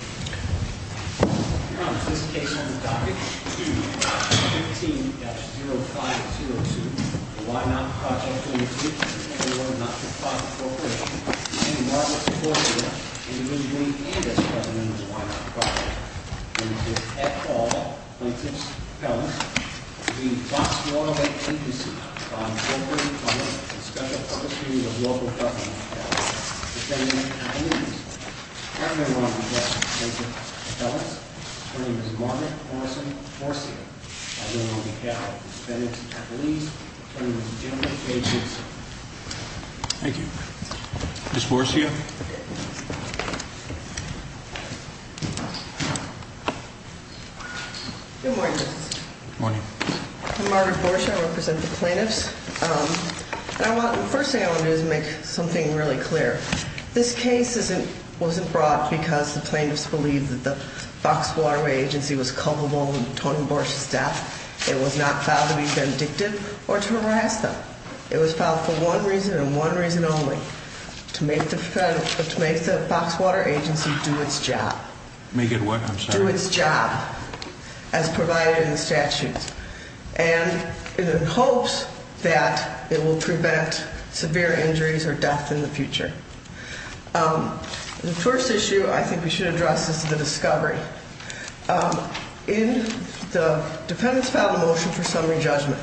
Your Honor, this case on the docket is 2-15-0502, the Y-Not Project, Ltd. v. Fox Waterway Agency Margaret Horsfield, Individually and as President of the Y-Not Project Lt. Ed Hall, Plaintiff's Appellant v. Fox Waterway Agency On Voluntary Punishment and Special Purposes of Local Government Affairs Defendant at Least Paramount Objection, Plaintiff's Appellant Her name is Margaret Morrison Horsfield I know I'm a coward Defendant at Least Her name is General K. Simpson Thank you Ms. Borshia Good morning, Justice Good morning I'm Margaret Borshia, I represent the plaintiffs The first thing I want to do is make something really clear This case wasn't brought because the plaintiffs believed that the Fox Waterway Agency was culpable of Tony Borshia's death It was not filed to be vindictive or to harass them It was filed for one reason and one reason only To make the Fox Water Agency do its job Make it what, I'm sorry? Do its job As provided in the statutes And in the hopes that it will prevent severe injuries or death in the future The first issue I think we should address is the discovery In the defendant's filed motion for summary judgment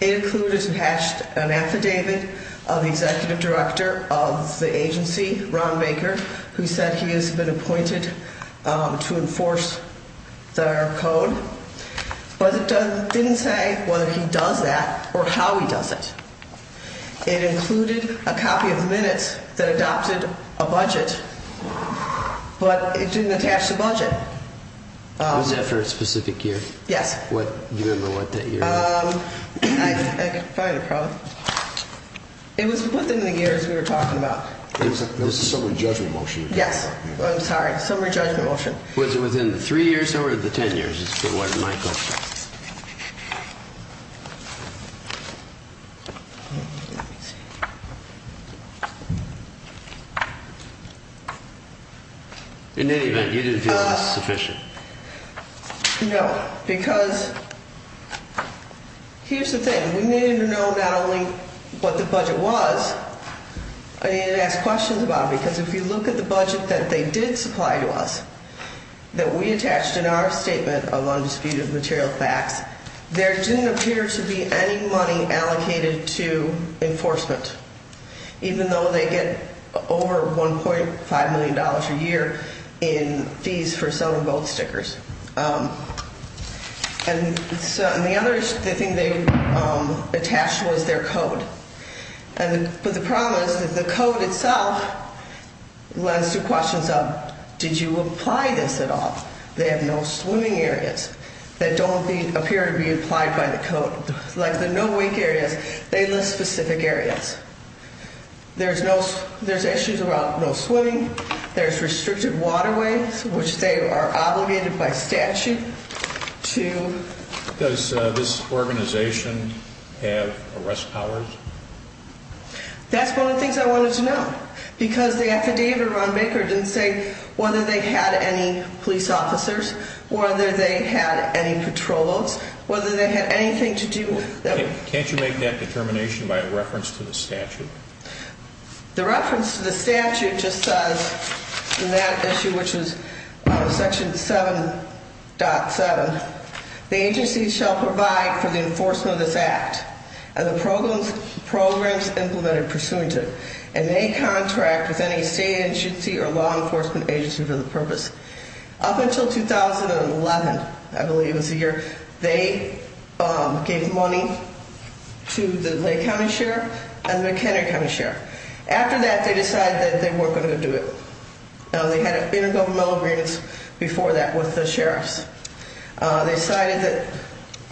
It included an affidavit of the executive director of the agency, Ron Baker Who said he has been appointed to enforce their code But it didn't say whether he does that or how he does it It included a copy of the minutes that adopted a budget But it didn't attach the budget Was that for a specific year? Yes Do you remember what that year was? I have a problem It was within the years we were talking about It was a summary judgment motion Yes, I'm sorry, summary judgment motion Was it within the three years or the ten years is what my question is In any event, you didn't feel it was sufficient No, because here's the thing We needed to know not only what the budget was I needed to ask questions about it Because if you look at the budget that they did supply to us That we attached in our statement of undisputed material facts There didn't appear to be any money allocated to enforcement Even though they get over 1.5 million dollars a year In fees for selling boat stickers And the other thing they attached was their code But the problem is that the code itself Lends two questions up Did you apply this at all? They have no swimming areas That don't appear to be applied by the code Like the no wake areas, they list specific areas There's issues about no swimming There's restricted waterways Which they are obligated by statute to Does this organization have arrest powers? That's one of the things I wanted to know Because the affidavit of Ron Baker didn't say Whether they had any police officers Whether they had any patrol boats Whether they had anything to do with Can't you make that determination by reference to the statute? The reference to the statute just says In that issue which is section 7.7 The agency shall provide for the enforcement of this act And the programs implemented pursuant to And may contract with any state agency Or law enforcement agency for the purpose Up until 2011 I believe was the year They gave money to the Lake County Sheriff And the McHenry County Sheriff After that they decided that they weren't going to do it They had an intergovernmental agreement Before that with the sheriffs They decided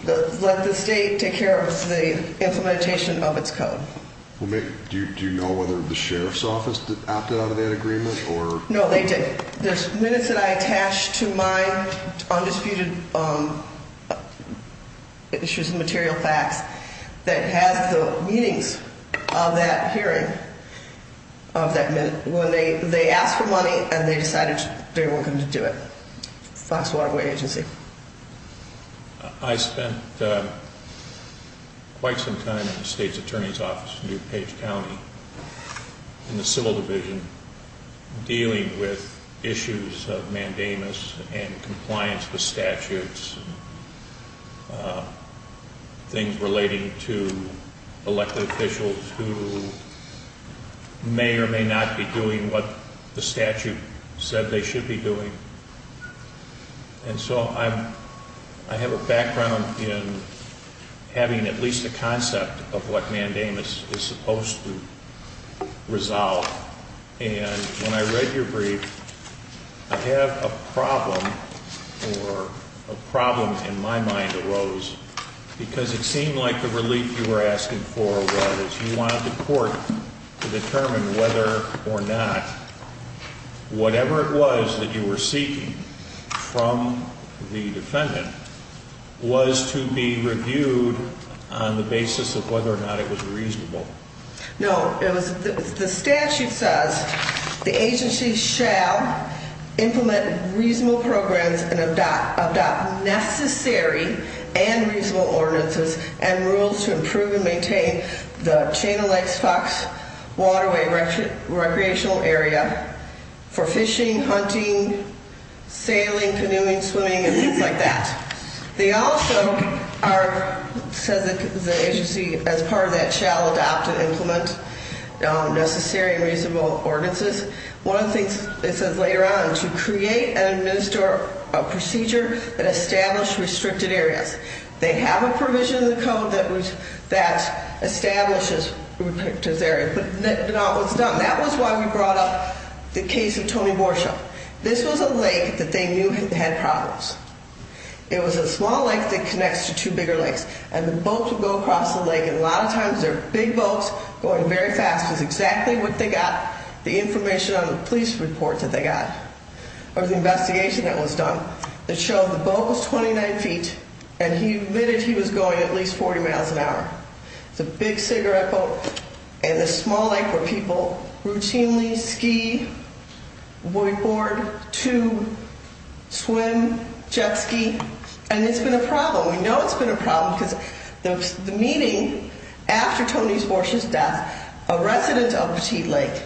to let the state Take care of the implementation of its code Do you know whether the sheriff's office Opted out of that agreement? No they didn't There's minutes that I attach to my Undisputed issues and material facts That has the meetings of that hearing Of that minute when they asked for money And they decided they weren't going to do it Fox Waterway Agency I spent quite some time in the state's attorney's office In New Page County In the civil division Dealing with issues of mandamus And compliance with statutes Things relating to elected officials Who may or may not be doing What the statute said they should be doing And so I have a background in Having at least a concept of what mandamus Is supposed to resolve And when I read your brief I have a problem Or a problem in my mind arose Because it seemed like the relief you were asking for Was you wanted the court to determine Whether or not Whatever it was that you were seeking From the defendant Was to be reviewed On the basis of whether or not it was reasonable No, it was The statute says The agency shall Implement reasonable programs And adopt necessary And reasonable ordinances And rules to improve and maintain The Chain of Lakes Fox Waterway Recreational area For fishing, hunting Sailing, canoeing, swimming And things like that They also are Says the agency As part of that shall adopt and implement Necessary and reasonable ordinances One of the things it says later on To create and administer A procedure that established restricted areas They have a provision in the code That establishes Restricted areas That was why we brought up The case of Tony Borshaw This was a lake that they knew had problems It was a small lake that connects to two bigger lakes And the boats would go across the lake And a lot of times they're big boats Going very fast It was exactly what they got The information on the police reports that they got Or the investigation that was done That showed the boat was 29 feet And he admitted he was going at least 40 miles an hour It's a big cigarette boat And this small lake where people Routinely ski Boatboard, tube Swim, jet ski And it's been a problem We know it's been a problem Because the meeting After Tony Borshaw's death A resident of Petite Lake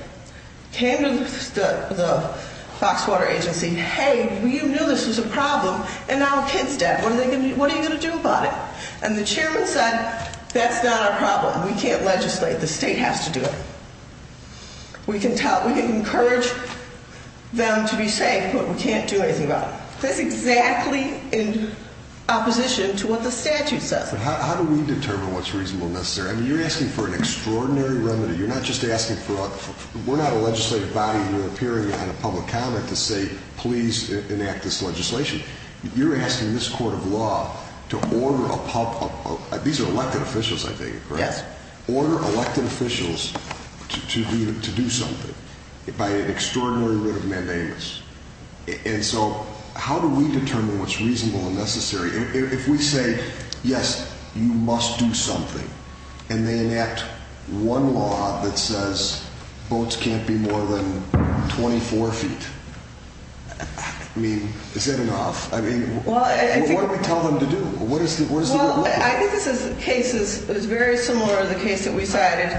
Came to the Foxwater agency Hey, you knew this was a problem And now a kid's dead What are you going to do about it? And the chairman said That's not our problem We can't legislate The state has to do it We can encourage Them to be safe But we can't do anything about it That's exactly in opposition To what the statute says How do we determine what's reasonable and necessary? I mean, you're asking for an extraordinary remedy You're not just asking for a We're not a legislative body Appearing on a public comment to say Please enact this legislation You're asking this court of law To order a public These are elected officials, I think, correct? Yes Order elected officials To do something By an extraordinary writ of mandamus And so How do we determine what's reasonable and necessary? If we say Yes, you must do something And they enact one law That says boats can't be more than 24 feet I mean Is that enough? What do we tell them to do? I think this is Very similar to the case That we cited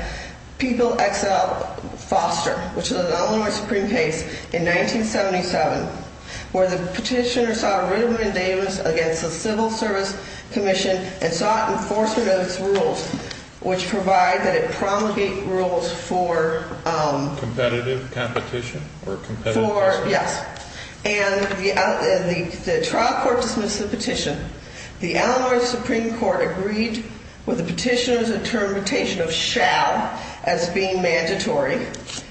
People XL Foster Which is an Illinois Supreme case In 1977 Where the petitioner saw a writ of mandamus Against the civil service commission And sought enforcement of its rules Which provide that it promulgate Rules for Competitive competition? Yes And the trial court After the trial court dismissed the petition The Illinois Supreme Court agreed With the petitioner's interpretation Of shall As being mandatory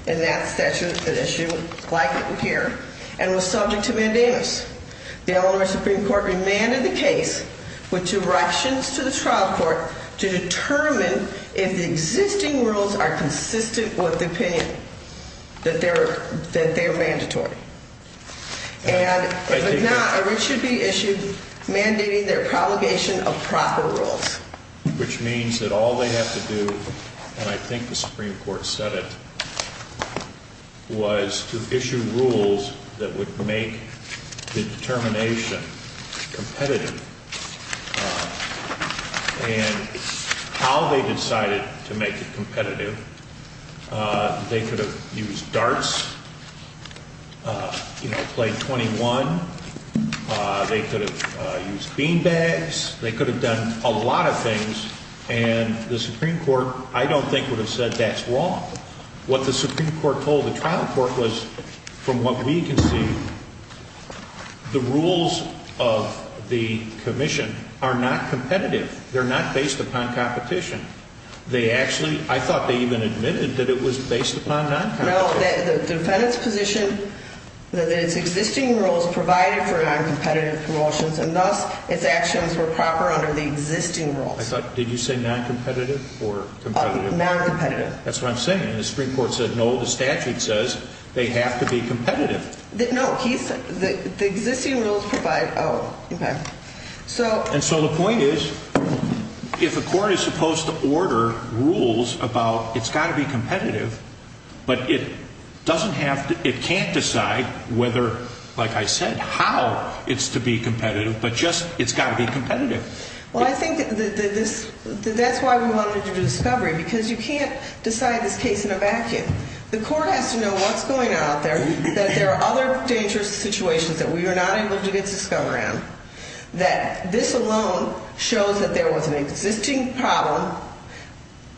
In that statute And was subject to mandamus The Illinois Supreme Court Remanded the case With two corrections to the trial court To determine If the existing rules are consistent With the opinion That they're mandatory And If not, a writ should be issued Mandating their promulgation Of proper rules Which means that all they have to do And I think the Supreme Court said it Was To issue rules That would make the determination Competitive And how they decided To make it competitive They could have used Darts Played 21 They could have Used bean bags They could have done a lot of things And the Supreme Court I don't think would have said that's wrong What the Supreme Court told the trial court Was from what we can see The rules Of the commission Are not competitive They're not based upon competition They actually, I thought they even admitted That it was based upon non-competitive No, the defendant's position That it's existing rules Provided for non-competitive promotions And thus, it's actions were proper Under the existing rules I thought, did you say non-competitive or competitive? Non-competitive That's what I'm saying, the Supreme Court said no The statute says they have to be competitive Oh, okay And so the point is If a court is supposed to order Rules about it's got to be competitive But it doesn't have to It can't decide whether Like I said, how It's to be competitive But just it's got to be competitive Well, I think that this That's why we wanted to do discovery Because you can't decide this case in a vacuum The court has to know what's going on out there That there are other dangerous situations That we are not able to get discovery on That this alone Shows that there was an existing problem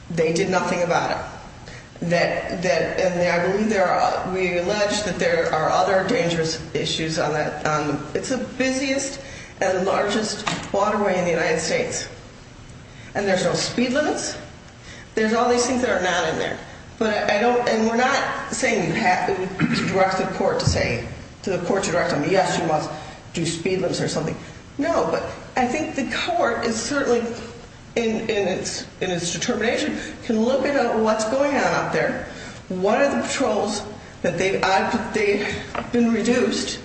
They did nothing about it That I believe there are We allege that there are other dangerous issues It's the busiest And largest waterway In the United States And there's no speed limits There's all these things that are not in there And we're not saying You have to direct the court to say To the court to direct them Yes, you must do speed limits or something No, but I think the court Is certainly In its determination Can look at what's going on out there What are the patrols That they've been reduced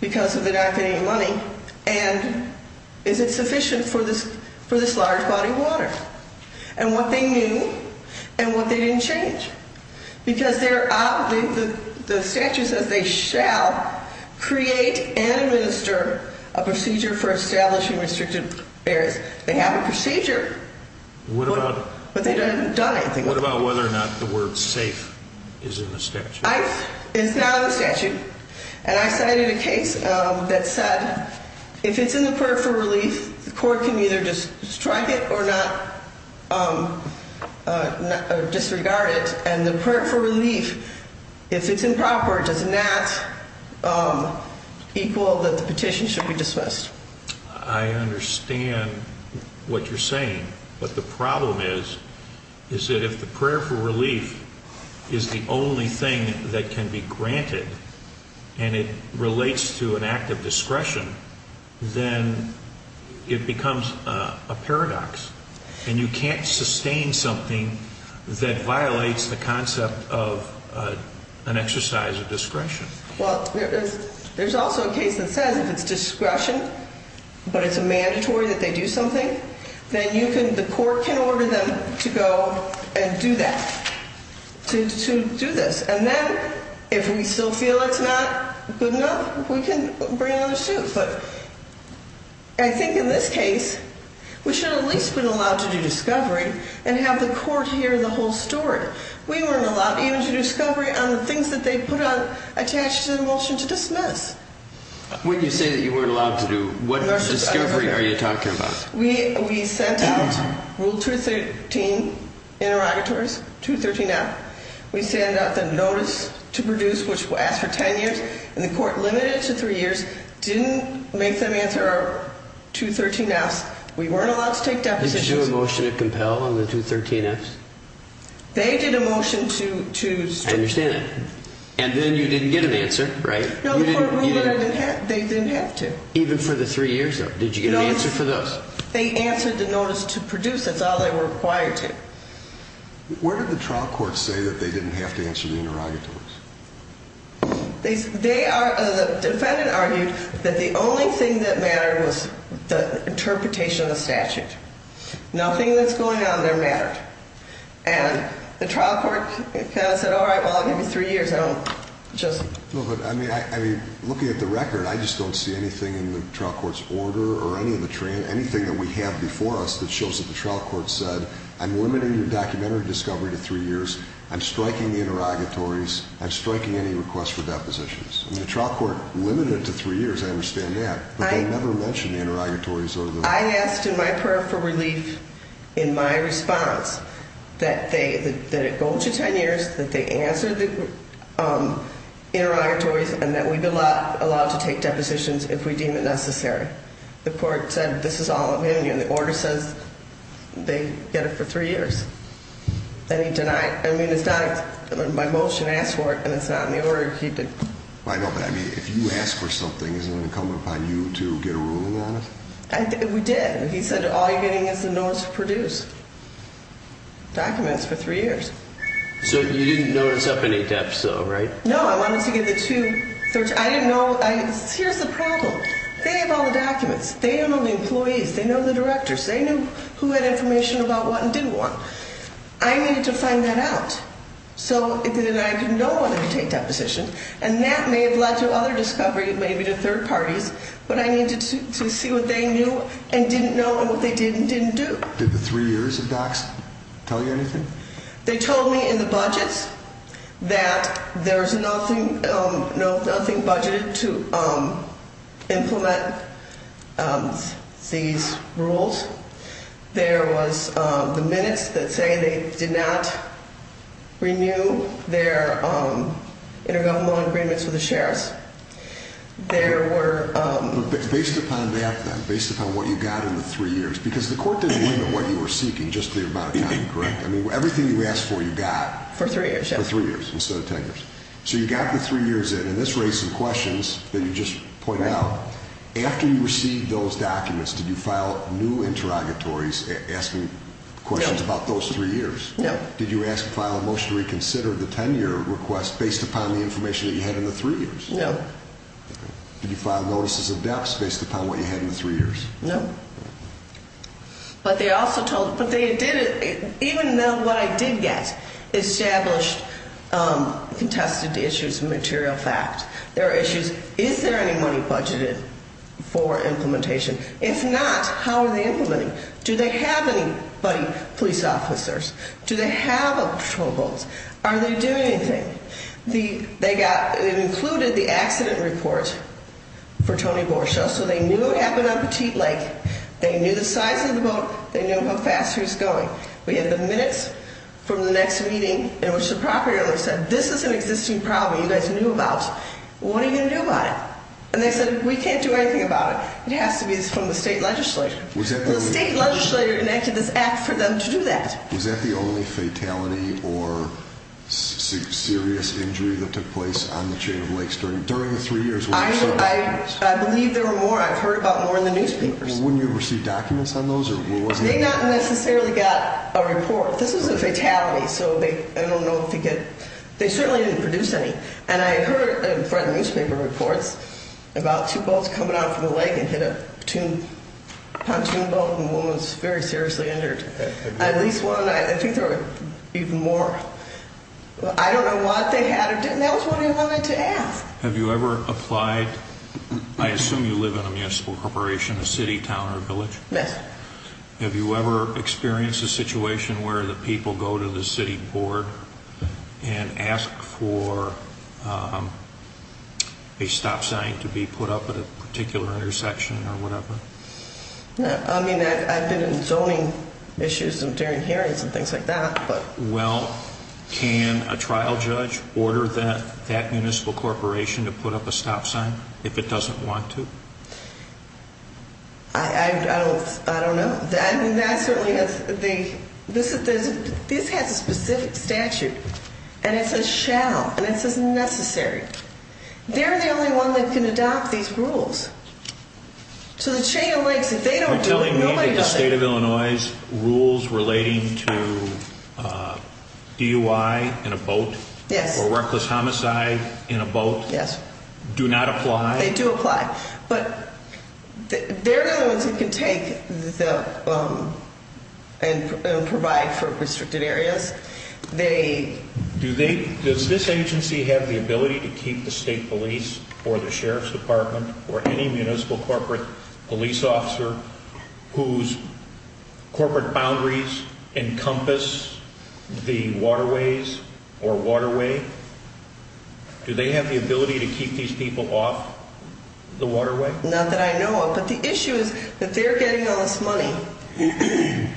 Because of the not getting Any money And is it sufficient For this large body of water And what they didn't change Because the statute Says they shall Create and administer A procedure for establishing Restricted areas They have a procedure But they haven't done anything What about whether or not the word safe Is in the statute It's not in the statute And I cited a case that said If it's in the prayer for relief The court can either just strike it Or not Disregard it And the prayer for relief If it's improper Does not Equal that the petition Should be dismissed I understand what you're saying But the problem is Is that if the prayer for relief Is the only thing That can be granted And it relates to an act of Discretion Then it becomes A paradox And you can't sustain something That violates the concept of An exercise of discretion Well there's also A case that says if it's discretion But it's a mandatory that they do Something then you can The court can order them to go And do that To do this and then If we still feel it's not Good enough we can bring another suit But I think in this case We should have at least been allowed to do discovery And have the court hear the whole story We weren't allowed even to do discovery On the things that they put on Attached to the motion to dismiss When you say that you weren't allowed to do What discovery are you talking about? We sent out Rule 213 Interrogatories, 213F We sent out the notice to produce Which asked for 10 years And the court limited it to 3 years Didn't make them answer our 213Fs We weren't allowed to take depositions Did you do a motion to compel On the 213Fs? They did a motion to I understand that And then you didn't get an answer They didn't have to Even for the 3 years? Did you get an answer for those? They answered the notice to produce That's all they were required to Where did the trial court say That they didn't have to answer the interrogatories? The defendant argued That the only thing that mattered Was the interpretation of the statute Nothing that's going on there mattered And the trial court Kind of said Alright, well I'll give you 3 years I don't just Looking at the record I just don't see anything in the trial court's order Or anything that we have before us That shows that the trial court said I'm limiting the documentary discovery to 3 years I'm striking the interrogatories I'm striking any request for depositions And the trial court limited it to 3 years I understand that But they never mentioned the interrogatories I asked in my prayer for relief In my response That it go to 10 years That they answer the Interrogatories And that we be allowed to take depositions If we deem it necessary The court said this is all opinion The order says they get it for 3 years And he denied I mean it's not My motion asked for it And it's not in the order he did I know but I mean if you ask for something Isn't it incumbent upon you to get a ruling on it? We did He said all you're getting is the notice to produce Documents for 3 years So you didn't notice Up any depth though, right? No I wanted to get the 2 I didn't know Here's the problem They have all the documents They know the employees They know the directors They knew who had information about what And didn't want I needed to find that out So then I didn't know whether to take depositions And that may have led to other discovery Maybe to third parties But I needed to see what they knew And didn't know and what they did and didn't do Did the 3 years of docs tell you anything? They told me in the budgets That There's nothing Budgeted to Implement These rules There was The minutes that say they did not Renew Their Intergovernmental agreements with the sheriffs There were Based upon that then Based upon what you got in the 3 years Because the court didn't limit what you were seeking Just the amount of time, correct? Everything you asked for you got For 3 years So you got the 3 years in And this raised some questions That you just pointed out After you received those documents Did you file new interrogatories Asking questions about those 3 years? No Did you file a motion to reconsider the 10 year request Based upon the information you had in the 3 years? No Did you file notices of depths based upon what you had in the 3 years? No But they also told Even though what I did get Established Contested issues Material fact There are issues Is there any money budgeted for implementation? If not, how are they implementing? Do they have any police officers? Do they have patrol boats? Are they doing anything? They included The accident report For Tony Borchell So they knew what happened on Petite Lake They knew the size of the boat They knew how fast it was going We had the minutes From the next meeting In which the property owner said This is an existing problem You guys knew about What are you going to do about it? And they said we can't do anything about it It has to be from the state legislature Was that the only fatality Or serious injury That took place on the chain of lakes During the 3 years I believe there were more I've heard about more in the newspapers Wouldn't you have received documents on those? They didn't necessarily get a report This was a fatality So I don't know They certainly didn't produce any And I heard in front of the newspaper reports About two boats coming out from the lake And hit a pontoon boat And the woman was very seriously injured At least one I think there were even more I don't know what they had or didn't That's what I wanted to ask Have you ever applied I assume you live in a municipal corporation A city, town or village Yes Have you ever experienced a situation Where the people go to the city board And ask for A stop sign To be put up At a particular intersection I've been in zoning issues During hearings And things like that Can a trial judge Order that municipal corporation To put up a stop sign If it doesn't want to I don't know That certainly has This has a specific statute And it says shall And it says necessary They're the only one That can adopt these rules So the chain of lakes If they don't do it, nobody does it Are you telling me that the state of Illinois Rules relating to DUI in a boat Or reckless homicide In a boat Do not apply They do apply They're the only ones that can take And provide For restricted areas Does this agency Have the ability to keep The state police or the sheriff's department Or any municipal corporate Police officer Whose corporate boundaries Encompass The waterways Or waterway Do they have the ability to keep These people off the waterway Not that I know of But the issue is that they're getting all this money And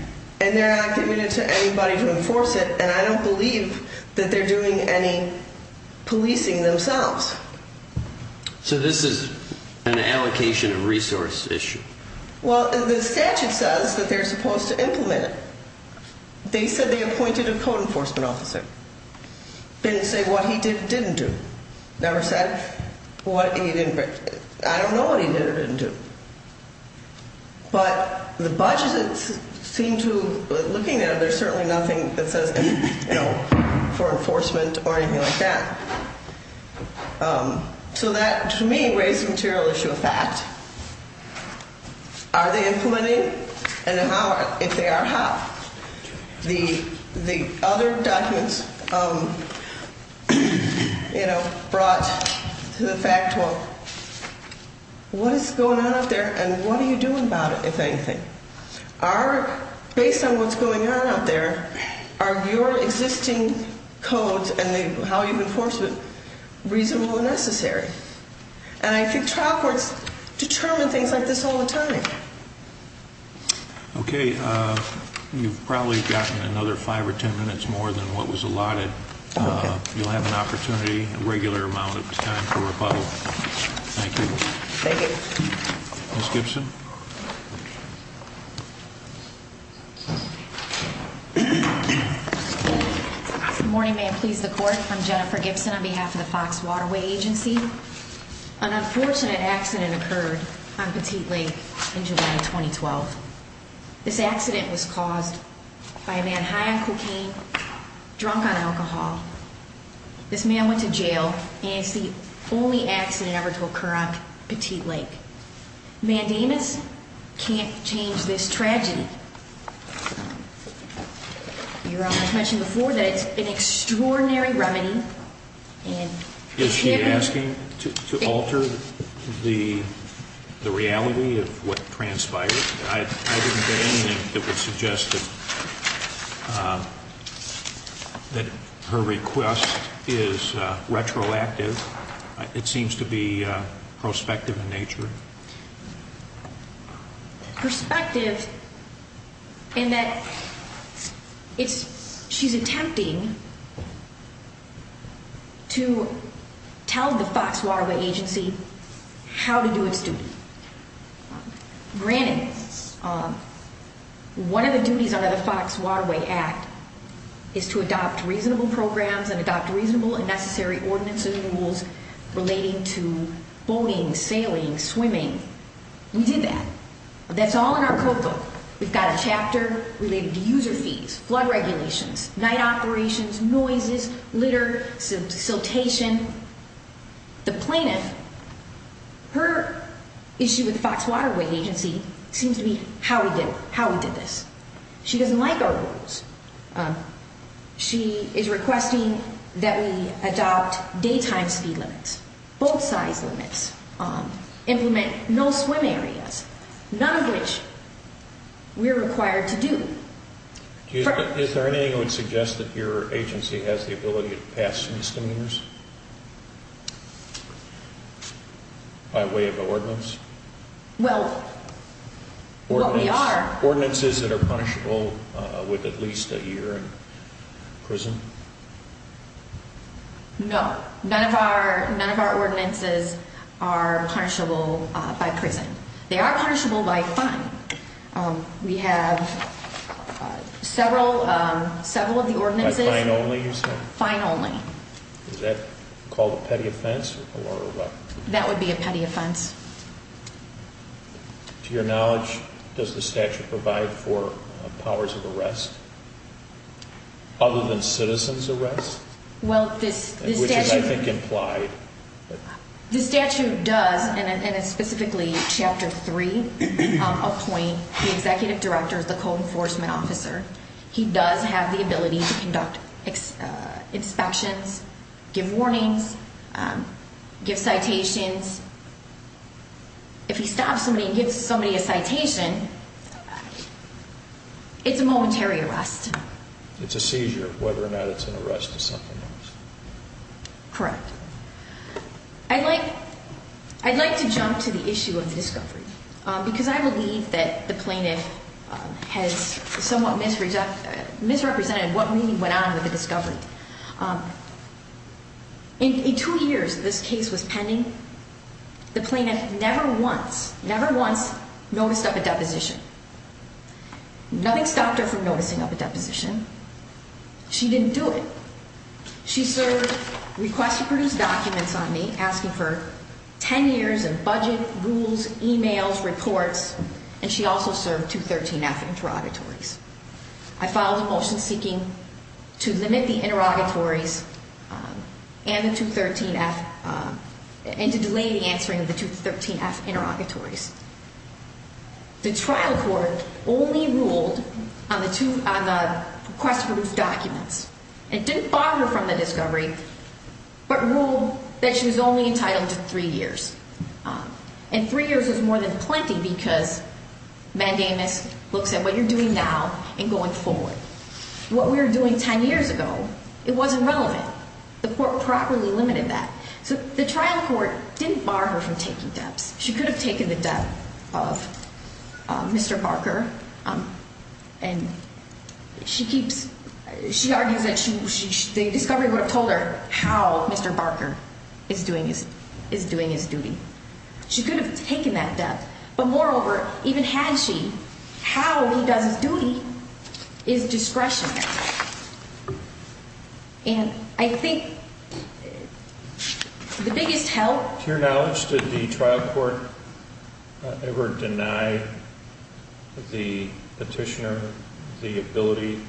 they're not Committed to anybody to enforce it And I don't believe that they're doing any Policing themselves So this is An allocation of resource issue Well the statute says That they're supposed to implement it They said they appointed a code Enforcement officer Didn't say what he didn't do Never said I don't know what he did or didn't do But The budget Seemed to, looking at it There's certainly nothing that says For enforcement or anything like that So that To me raises the material issue Of fact Are they implementing And if they are How The other documents You know Brought to the fact What Is going on out there And what are you doing about it If anything Based on what's going on out there Are your existing codes And how you enforce it Reasonable or necessary And I think trial courts Determine things like this all the time Okay You've probably gotten another five or ten minutes More than what was allotted You'll have an opportunity A regular amount of time for rebuttal Thank you Ms. Gibson Good morning, may it please the court I'm Jennifer Gibson on behalf of the Fox Waterway Agency An unfortunate accident Occurred on Petite Lake In July 2012 This accident was caused By a man high on cocaine Drunk on alcohol This man went to jail And it's the only accident ever to occur On Petite Lake Mandamus Can't change this tragedy You mentioned before that it's An extraordinary remedy Is she asking To alter The reality Of what transpired I didn't get anything that would suggest That her request Is retroactive It seems to be Prospective in nature Prospective In that She's attempting To tell the Fox Waterway Agency How to do its duty Granted One of the duties Under the Fox Waterway Act Is to adopt reasonable programs And adopt reasonable and necessary ordinances And rules relating to Boating, sailing, swimming We did that That's all in our code book We've got a chapter related to user fees Flood regulations, night operations Noises, litter, Siltation The plaintiff Her issue with the Fox Waterway Agency seems to be How we did this She doesn't like our rules She is requesting That we adopt Daytime speed limits, boat size limits Implement No swim areas None of which We're required to do Is there anything That would suggest that your agency Has the ability to pass Misdemeanors By way of an ordinance Well We are Ordinances that are punishable With at least a year In prison No None of our ordinances Are punishable by prison They are punishable by fine We have Several Several of the ordinances Fine only Is that called a petty offense That would be a petty offense To your knowledge Does the statute provide For powers of arrest Other than Citizens arrest Which is I think implied The statute does And it's specifically Chapter 3 Appoint the executive director The co-enforcement officer He does have the ability to conduct Inspections Give warnings Give citations If he stops somebody And gives somebody a citation It's a momentary arrest It's a seizure Whether or not it's an arrest Correct I'd like I'd like to jump to the issue Of the discovery Because I believe that the plaintiff Has somewhat Misrepresented what really went on With the discovery In two years This case was pending The plaintiff never once Noticed up a deposition Nothing stopped her From noticing up a deposition She didn't do it She served Request to produce documents On me asking for Ten years of budget Rules, emails, reports And she also served 213F interrogatories I filed a motion seeking To limit the interrogatories And the 213F And to delay the answering Of the 213F interrogatories The trial court Only ruled On the request to produce documents And didn't bar her from the discovery But ruled That she was only entitled to three years And three years was more than Plenty because Mandamus looks at what you're doing now And going forward What we were doing ten years ago It wasn't relevant The court properly limited that So the trial court didn't bar her from taking deps She could have taken the dep Of Mr. Parker And She keeps She argues that The discovery would have told her How Mr. Parker Is doing his duty She could have taken that dep But moreover Even had she How he does his duty Is discretionary And I think The biggest help To your knowledge Did the trial court Ever deny The petitioner The ability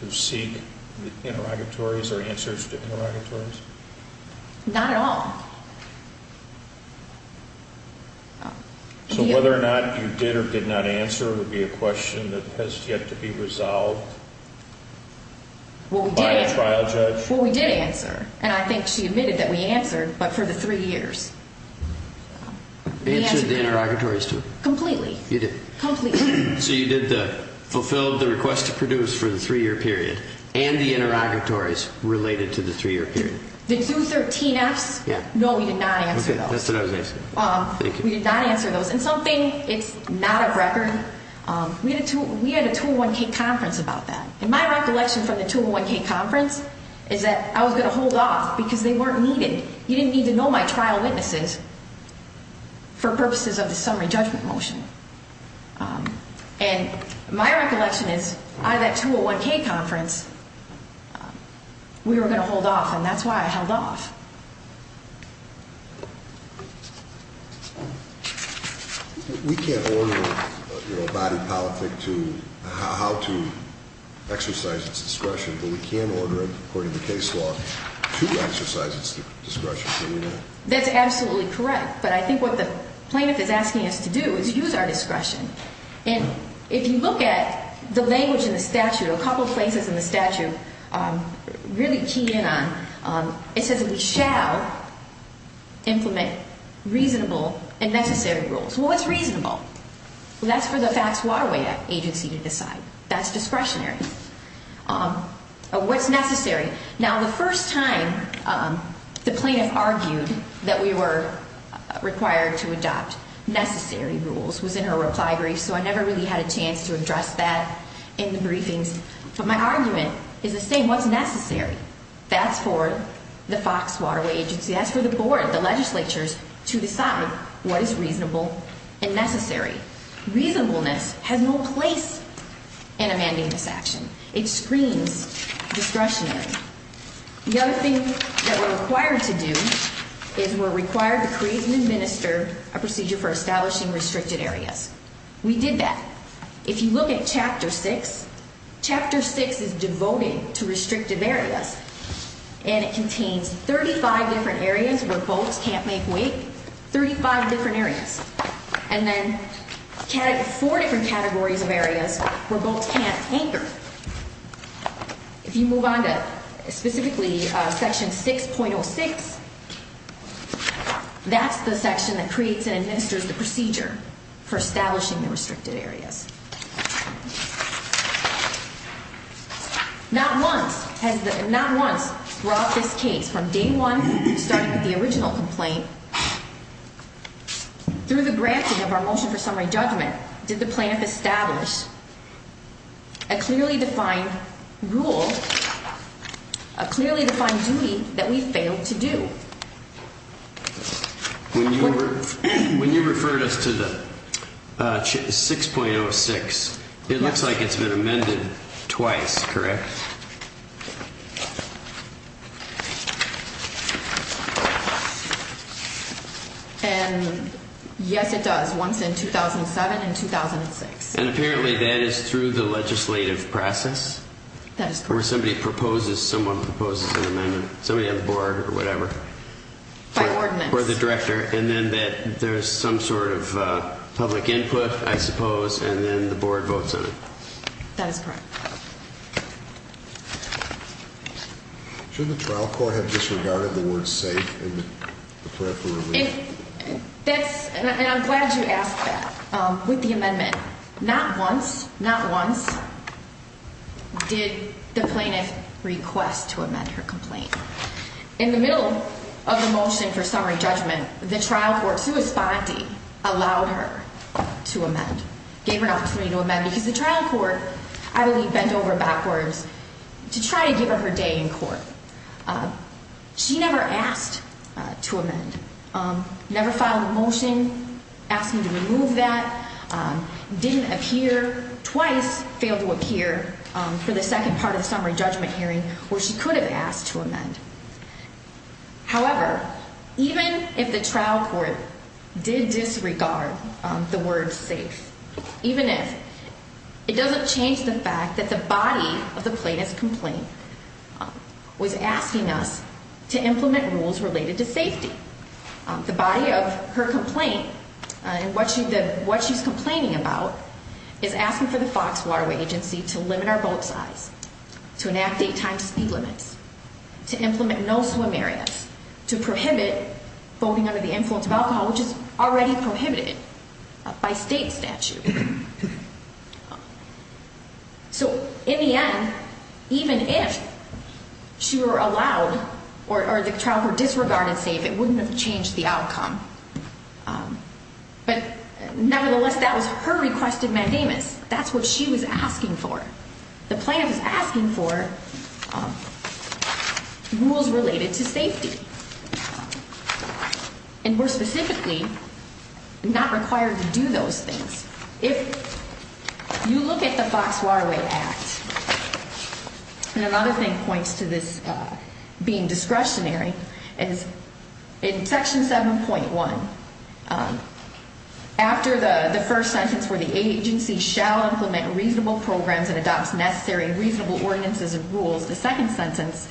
To seek Interrogatories or answers to interrogatories Not at all So whether or not you did or did not answer Would be a question that has yet to be resolved By a trial judge Well we did answer And I think she admitted that we answered But for the three years Answered the interrogatories too Completely So you did the Fulfilled the request to produce for the three year period And the interrogatories Related to the three year period The 213Fs No we did not answer those We did not answer those And something it's not a record We had a 201K conference about that And my recollection from the 201K conference Is that I was going to hold off Because they weren't needed You didn't need to know my trial witnesses For purposes of the summary judgment motion And my recollection is Out of that 201K conference We were going to hold off And that's why I held off We can't order A body politic to How to exercise It's discretion But we can order it According to case law To exercise it's discretion That's absolutely correct But I think what the plaintiff is asking us to do Is use our discretion And if you look at The language in the statute A couple of places in the statute Really key in on It says we shall Implement reasonable And necessary rules Well what's reasonable Well that's for the Fox Waterway agency to decide That's discretionary What's necessary Now the first time The plaintiff argued That we were required to adopt Necessary rules Was in her reply brief So I never really had a chance to address that In the briefings But my argument is the same What's necessary That's for the Fox Waterway agency That's for the board, the legislatures To decide what is reasonable And necessary Reasonableness has no place In amending this action It screens discretionary The other thing That we're required to do Is we're required to create and administer A procedure for establishing restricted areas We did that If you look at chapter 6 Chapter 6 is devoted To restrictive areas And it contains 35 different areas where boats Can't make wake 35 different areas And then 4 different categories Of areas where boats can't anchor If you move on to Specifically section 6.06 That's the section that creates and administers The procedure for establishing The restricted areas Not once Has the Not once brought this case From day one Starting with the original complaint Through the granting Of our motion for summary judgment Did the plaintiff establish A clearly defined Rule A clearly defined duty That we failed to do When you Referred us to the Section 6.06 It looks like it's been amended Twice, correct? And yes it does Once in 2007 and 2006 And apparently that is through the Legislative process Where somebody proposes Someone proposes an amendment Somebody on the board or whatever Or the director And then there's some sort of Public input I suppose And then the board votes on it That is correct Should the trial court have Disregarded the word safe And the prayer for relief? And I'm glad you asked that With the amendment Not once Did the plaintiff Request to amend her complaint In the middle Of the motion for summary judgment The trial court Suospondi allowed her to amend Gave her an opportunity to amend Because the trial court I believe bent over backwards To try to give her her day in court She never asked To amend Never filed a motion Asking to remove that Didn't appear Twice failed to appear For the second part of the summary judgment hearing Where she could have asked to amend However Even if the trial court Did disregard The word safe Even if It doesn't change the fact that the body Of the plaintiff's complaint Was asking us To implement rules related to safety The body of her complaint And what she's Complaining about Is asking for the Fox Waterway agency To limit our boat size To enact eight times speed limits To implement no swim areas To prohibit Boating under the influence of alcohol Which is already prohibited By state statute So In the end Even if she were allowed Or the trial court Disregarded safe It wouldn't have changed the outcome But nevertheless That was her requested mandamus That's what she was asking for The plaintiff was asking for Rules Related to safety And more specifically Not required To do those things If you look at the Fox Waterway Act And another thing points to this Being discretionary Is in section 7.1 After the First sentence Where the agency shall implement Reasonable programs and adopt Necessary reasonable ordinances And rules The second sentence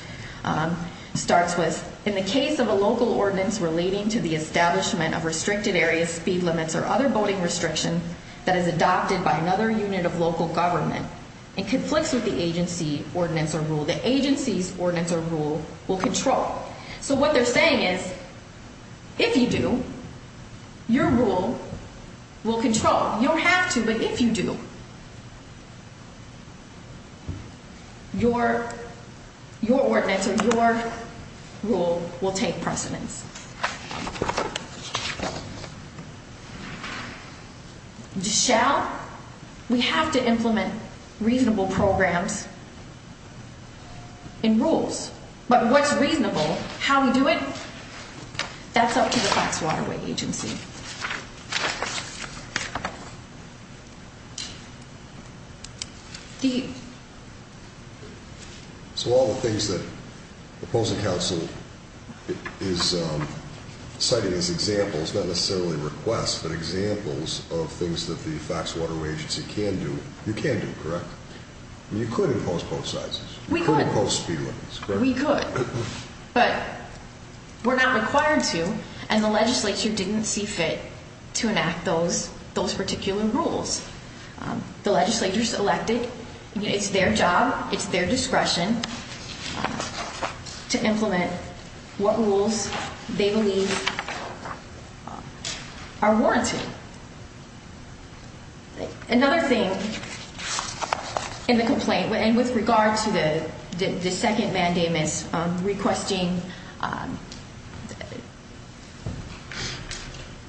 starts with In the case of a local ordinance Relating to the establishment Of restricted areas, speed limits Or other boating restriction That is adopted by another unit Of local government And conflicts with the agency That this ordinance or rule Will control So what they're saying is If you do Your rule will control You don't have to But if you do Your ordinance or your Rule will take precedence Shall We have to implement Reasonable programs And rules But what's reasonable How we do it That's up to the Fox Waterway agency So all the things that Opposing counsel Is citing as examples Not necessarily requests But examples of things that the Agency can do Correct We could But We're not required to And the legislature didn't see fit To enact those Those particular rules The legislature selected It's their job It's their discretion To implement What rules they believe Are warranted So Another thing In the complaint And with regard to the Second mandamus Requesting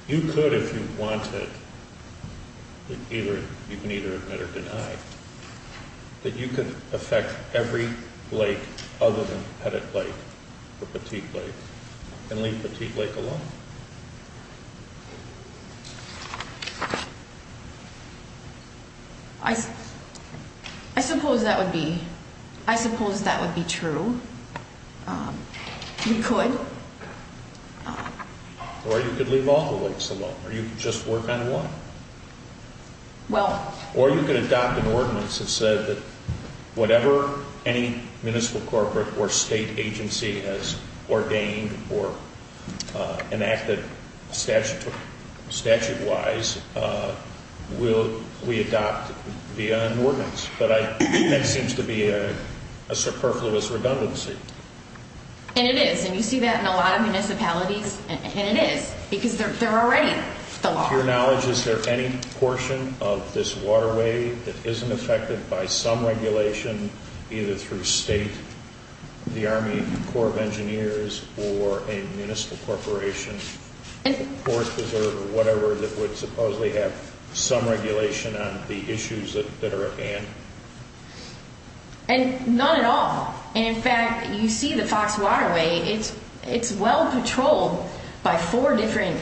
You could If you wanted Either You can either admit or deny That you could affect Every lake Other than Pettit Lake Or Petit Lake And leave Petit Lake alone I I suppose that would be I suppose that would be true We could Or you could leave all the lakes alone Or you could just work on one Well Or you could adopt an ordinance that said Whatever any Municipal corporate or state agency Has ordained or Enacted Statute wise Will We adopt the ordinance But that seems to be A superfluous redundancy And it is And you see that in a lot of municipalities And it is because they're already The law Is there any portion of this waterway That isn't affected by some regulation Either through state The Army Corps of Engineers or a Municipal corporation Or whatever that would Supposedly have some regulation On the issues that are at hand And None at all And in fact you see the Fox Waterway It's well patrolled By four different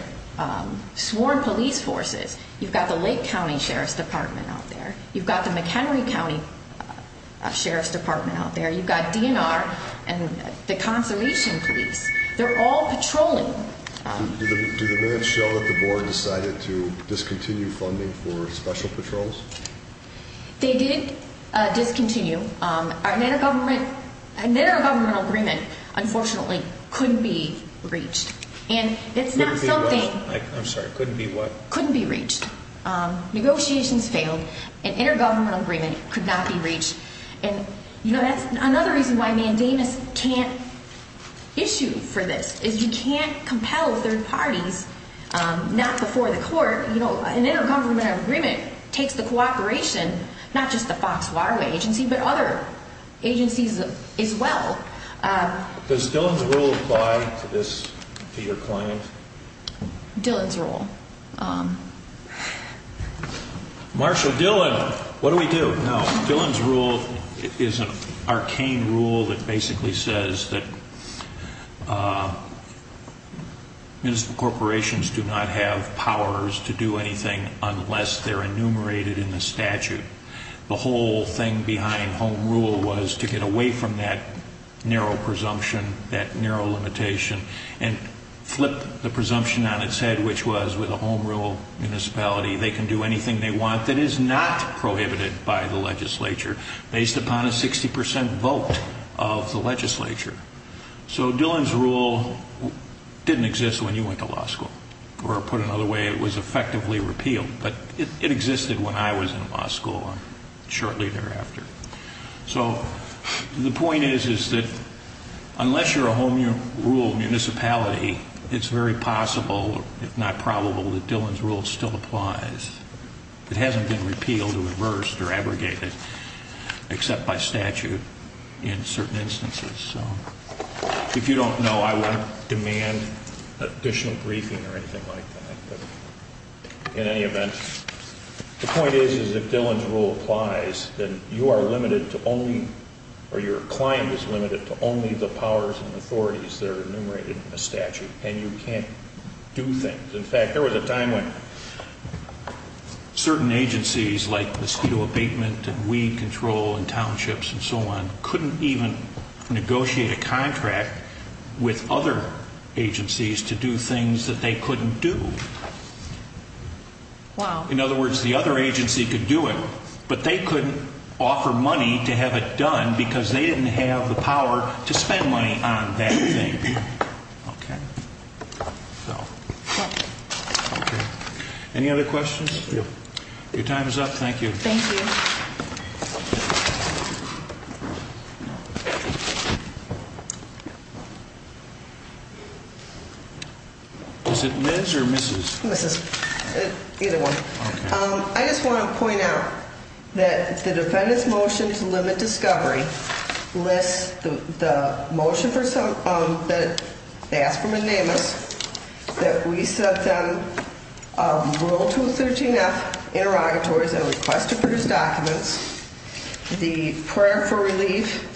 Sworn police forces You've got the Lake County Sheriff's Department out there You've got the McHenry County Sheriff's Department out there You've got DNR and The Conservation Police They're all patrolling Do the minutes show that the board decided To discontinue funding for Special patrols They did discontinue An intergovernmental Agreement unfortunately Couldn't be reached And it's not something Couldn't be what? Negotiations failed An intergovernmental agreement Could not be reached Another reason why Mandamus can't Issue for this Is you can't compel third parties Not before the court An intergovernmental agreement Takes the cooperation Not just the Fox Waterway agency But other agencies as well Does Dillon's rule Apply to this To your client Dillon's rule Marshall Dillon What do we do? Dillon's rule Is an arcane rule That basically says That Municipal corporations Do not have powers To do anything unless they're enumerated In the statute The whole thing behind home rule Was to get away from that Narrow presumption That narrow limitation And flip the presumption On its head which was With a home rule municipality They can do anything they want That is not prohibited by the legislature Based upon a 60% vote Of the legislature So Dillon's rule Didn't exist when you went to law school Or put another way It was effectively repealed But it existed when I was in law school Shortly thereafter So the point is Unless you're a home rule municipality It's very possible If not probable That Dillon's rule still applies It hasn't been repealed Or reversed or abrogated Except by statute In certain instances If you don't know I won't demand additional briefing Or anything like that In any event The point is if Dillon's rule applies Then you are limited to only Or your client is limited To only the powers and authorities That are enumerated in the statute And you can't do things In fact there was a time when Certain agencies Like mosquito abatement and weed control And townships and so on Couldn't even negotiate a contract With other Agencies to do things That they couldn't do In other words The other agency could do it But they couldn't offer money To have it done Because they didn't have the power To spend money on that thing Okay So Any other questions Your time is up Thank you Is it Ms. or Mrs. Mrs. Either one I just want to point out That the defendant's motion To limit discovery Lists the motion That asked for That we set Rule 213f Interrogatories And request to produce documents The prayer for relief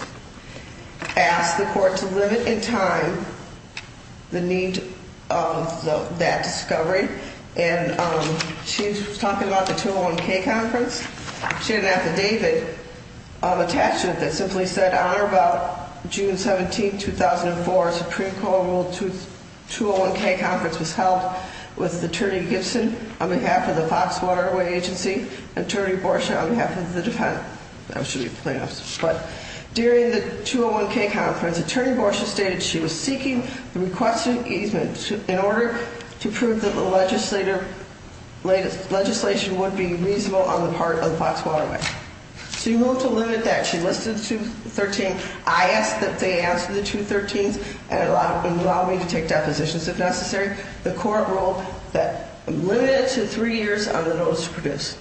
Asks the court To limit in time The need of That discovery And she was talking about The 201k conference She had an affidavit Attached to it that simply said On or about June 17, 2004 Supreme Court ruled The 201k conference was held With Attorney Gibson On behalf of the Fox Waterway Agency And Attorney Borshaw on behalf of the defendant That should be plaintiffs During the 201k conference Attorney Borshaw stated she was seeking The requested easement In order to prove that the legislature Legislation would be reasonable On the part of the Fox Waterway She wanted to limit that She listed the 213 I asked that they answer the 213 And allow me to take depositions If necessary The court ruled that Limited it to three years on the notice to produce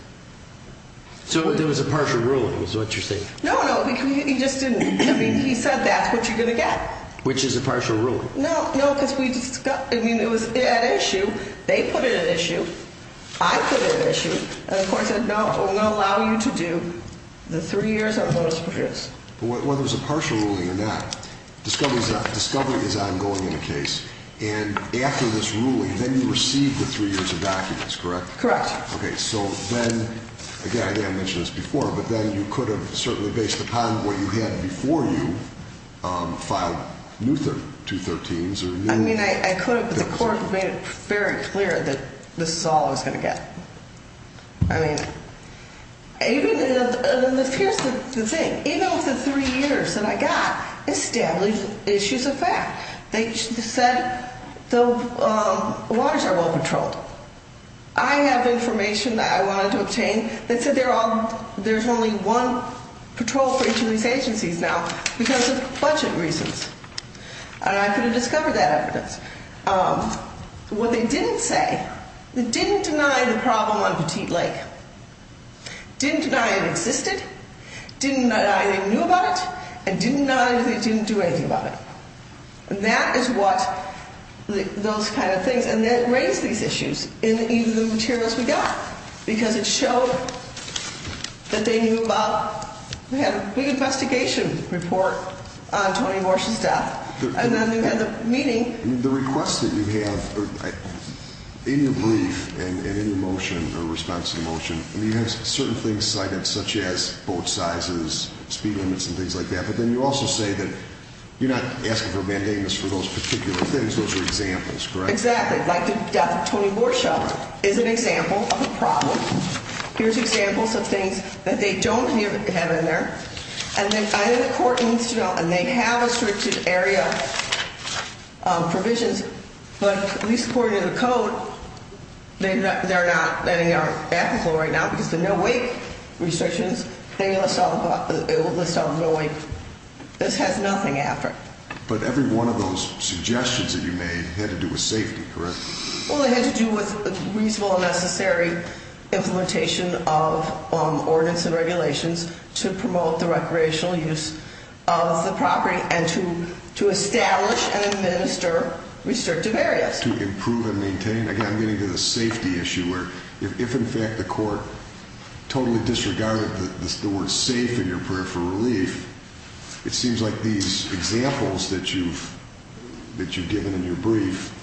So there was a partial ruling Is what you're saying No, no, he just didn't I mean, he said that's what you're going to get Which is a partial ruling No, no, because we discussed I mean, it was at issue They put it at issue I put it at issue And the court said no, we're going to allow you to do The three years on the notice to produce Whether it was a partial ruling or not Discovery is ongoing in the case And after this ruling Then you received the three years of documents, correct? Correct Okay, so then Again, I think I mentioned this before But then you could have certainly based upon What you had before you Filed new 213s I mean, I could have But the court made it very clear That this is all I was going to get I mean Even Here's the thing Even with the three years that I got Established issues of fact They said The waters are well controlled I have information That I wanted to obtain They said there's only one Patrol for each of these agencies now Because of budget reasons And I could have discovered that evidence What they didn't say They didn't deny The problem on Petite Lake Didn't deny it existed Didn't deny they knew about it And didn't deny they didn't do anything about it And that is what Those kind of things And that raised these issues In even the materials we got Because it showed That they knew about We had a big investigation report On Tony Warsh's death And then we had the meeting The request that you have In your brief And in your motion, or response to the motion You have certain things cited Such as boat sizes, speed limits And things like that But then you also say that You're not asking for mandating this for those particular things Those are examples, correct? Exactly, like the death of Tony Warsh Is an example of a problem Here's examples of things That they don't have in there And then either the court needs to know And they have restricted area Provisions But at least according to the code They're not Letting it on the back of the floor right now Because the no wake restrictions They list all the no wake This has nothing after But every one of those suggestions That you made had to do with safety, correct? Well it had to do with Reasonable and necessary Implementation of Ordinance and regulations To promote the recreational use Of the property And to establish and administer Restrictive areas To improve and maintain, again I'm getting to the safety issue Where if in fact the court Totally disregarded The word safe in your prayer for relief It seems like these Examples that you've That you've given in your brief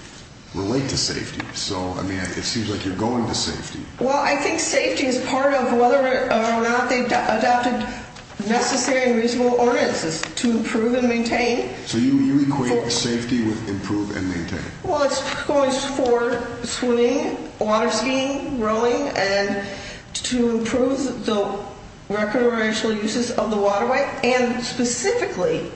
Relate to safety So it seems like you're going to safety Well I think safety is part of Whether or not they've adopted Necessary and reasonable ordinances To improve and maintain So you equate safety with Improve and maintain Well it's for swimming Water skiing, rowing And to improve The recreational uses Of the waterway and specifically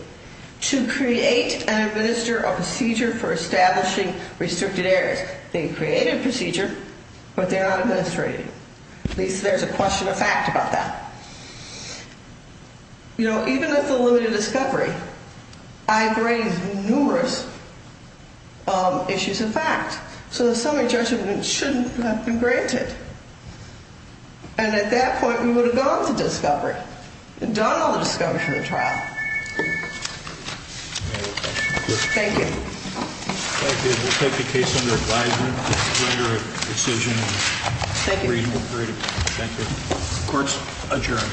To create And administer a procedure For establishing restricted areas They've created a procedure But they're not administrating At least there's a question of fact about that You know Even with the limited discovery I've raised numerous Issues And facts So the summary judgment Shouldn't have been granted And at that point We would have gone to discovery Done all the discovery from the trial Thank you Thank you We'll take the case under advisement To render a decision Thank you Court's adjourned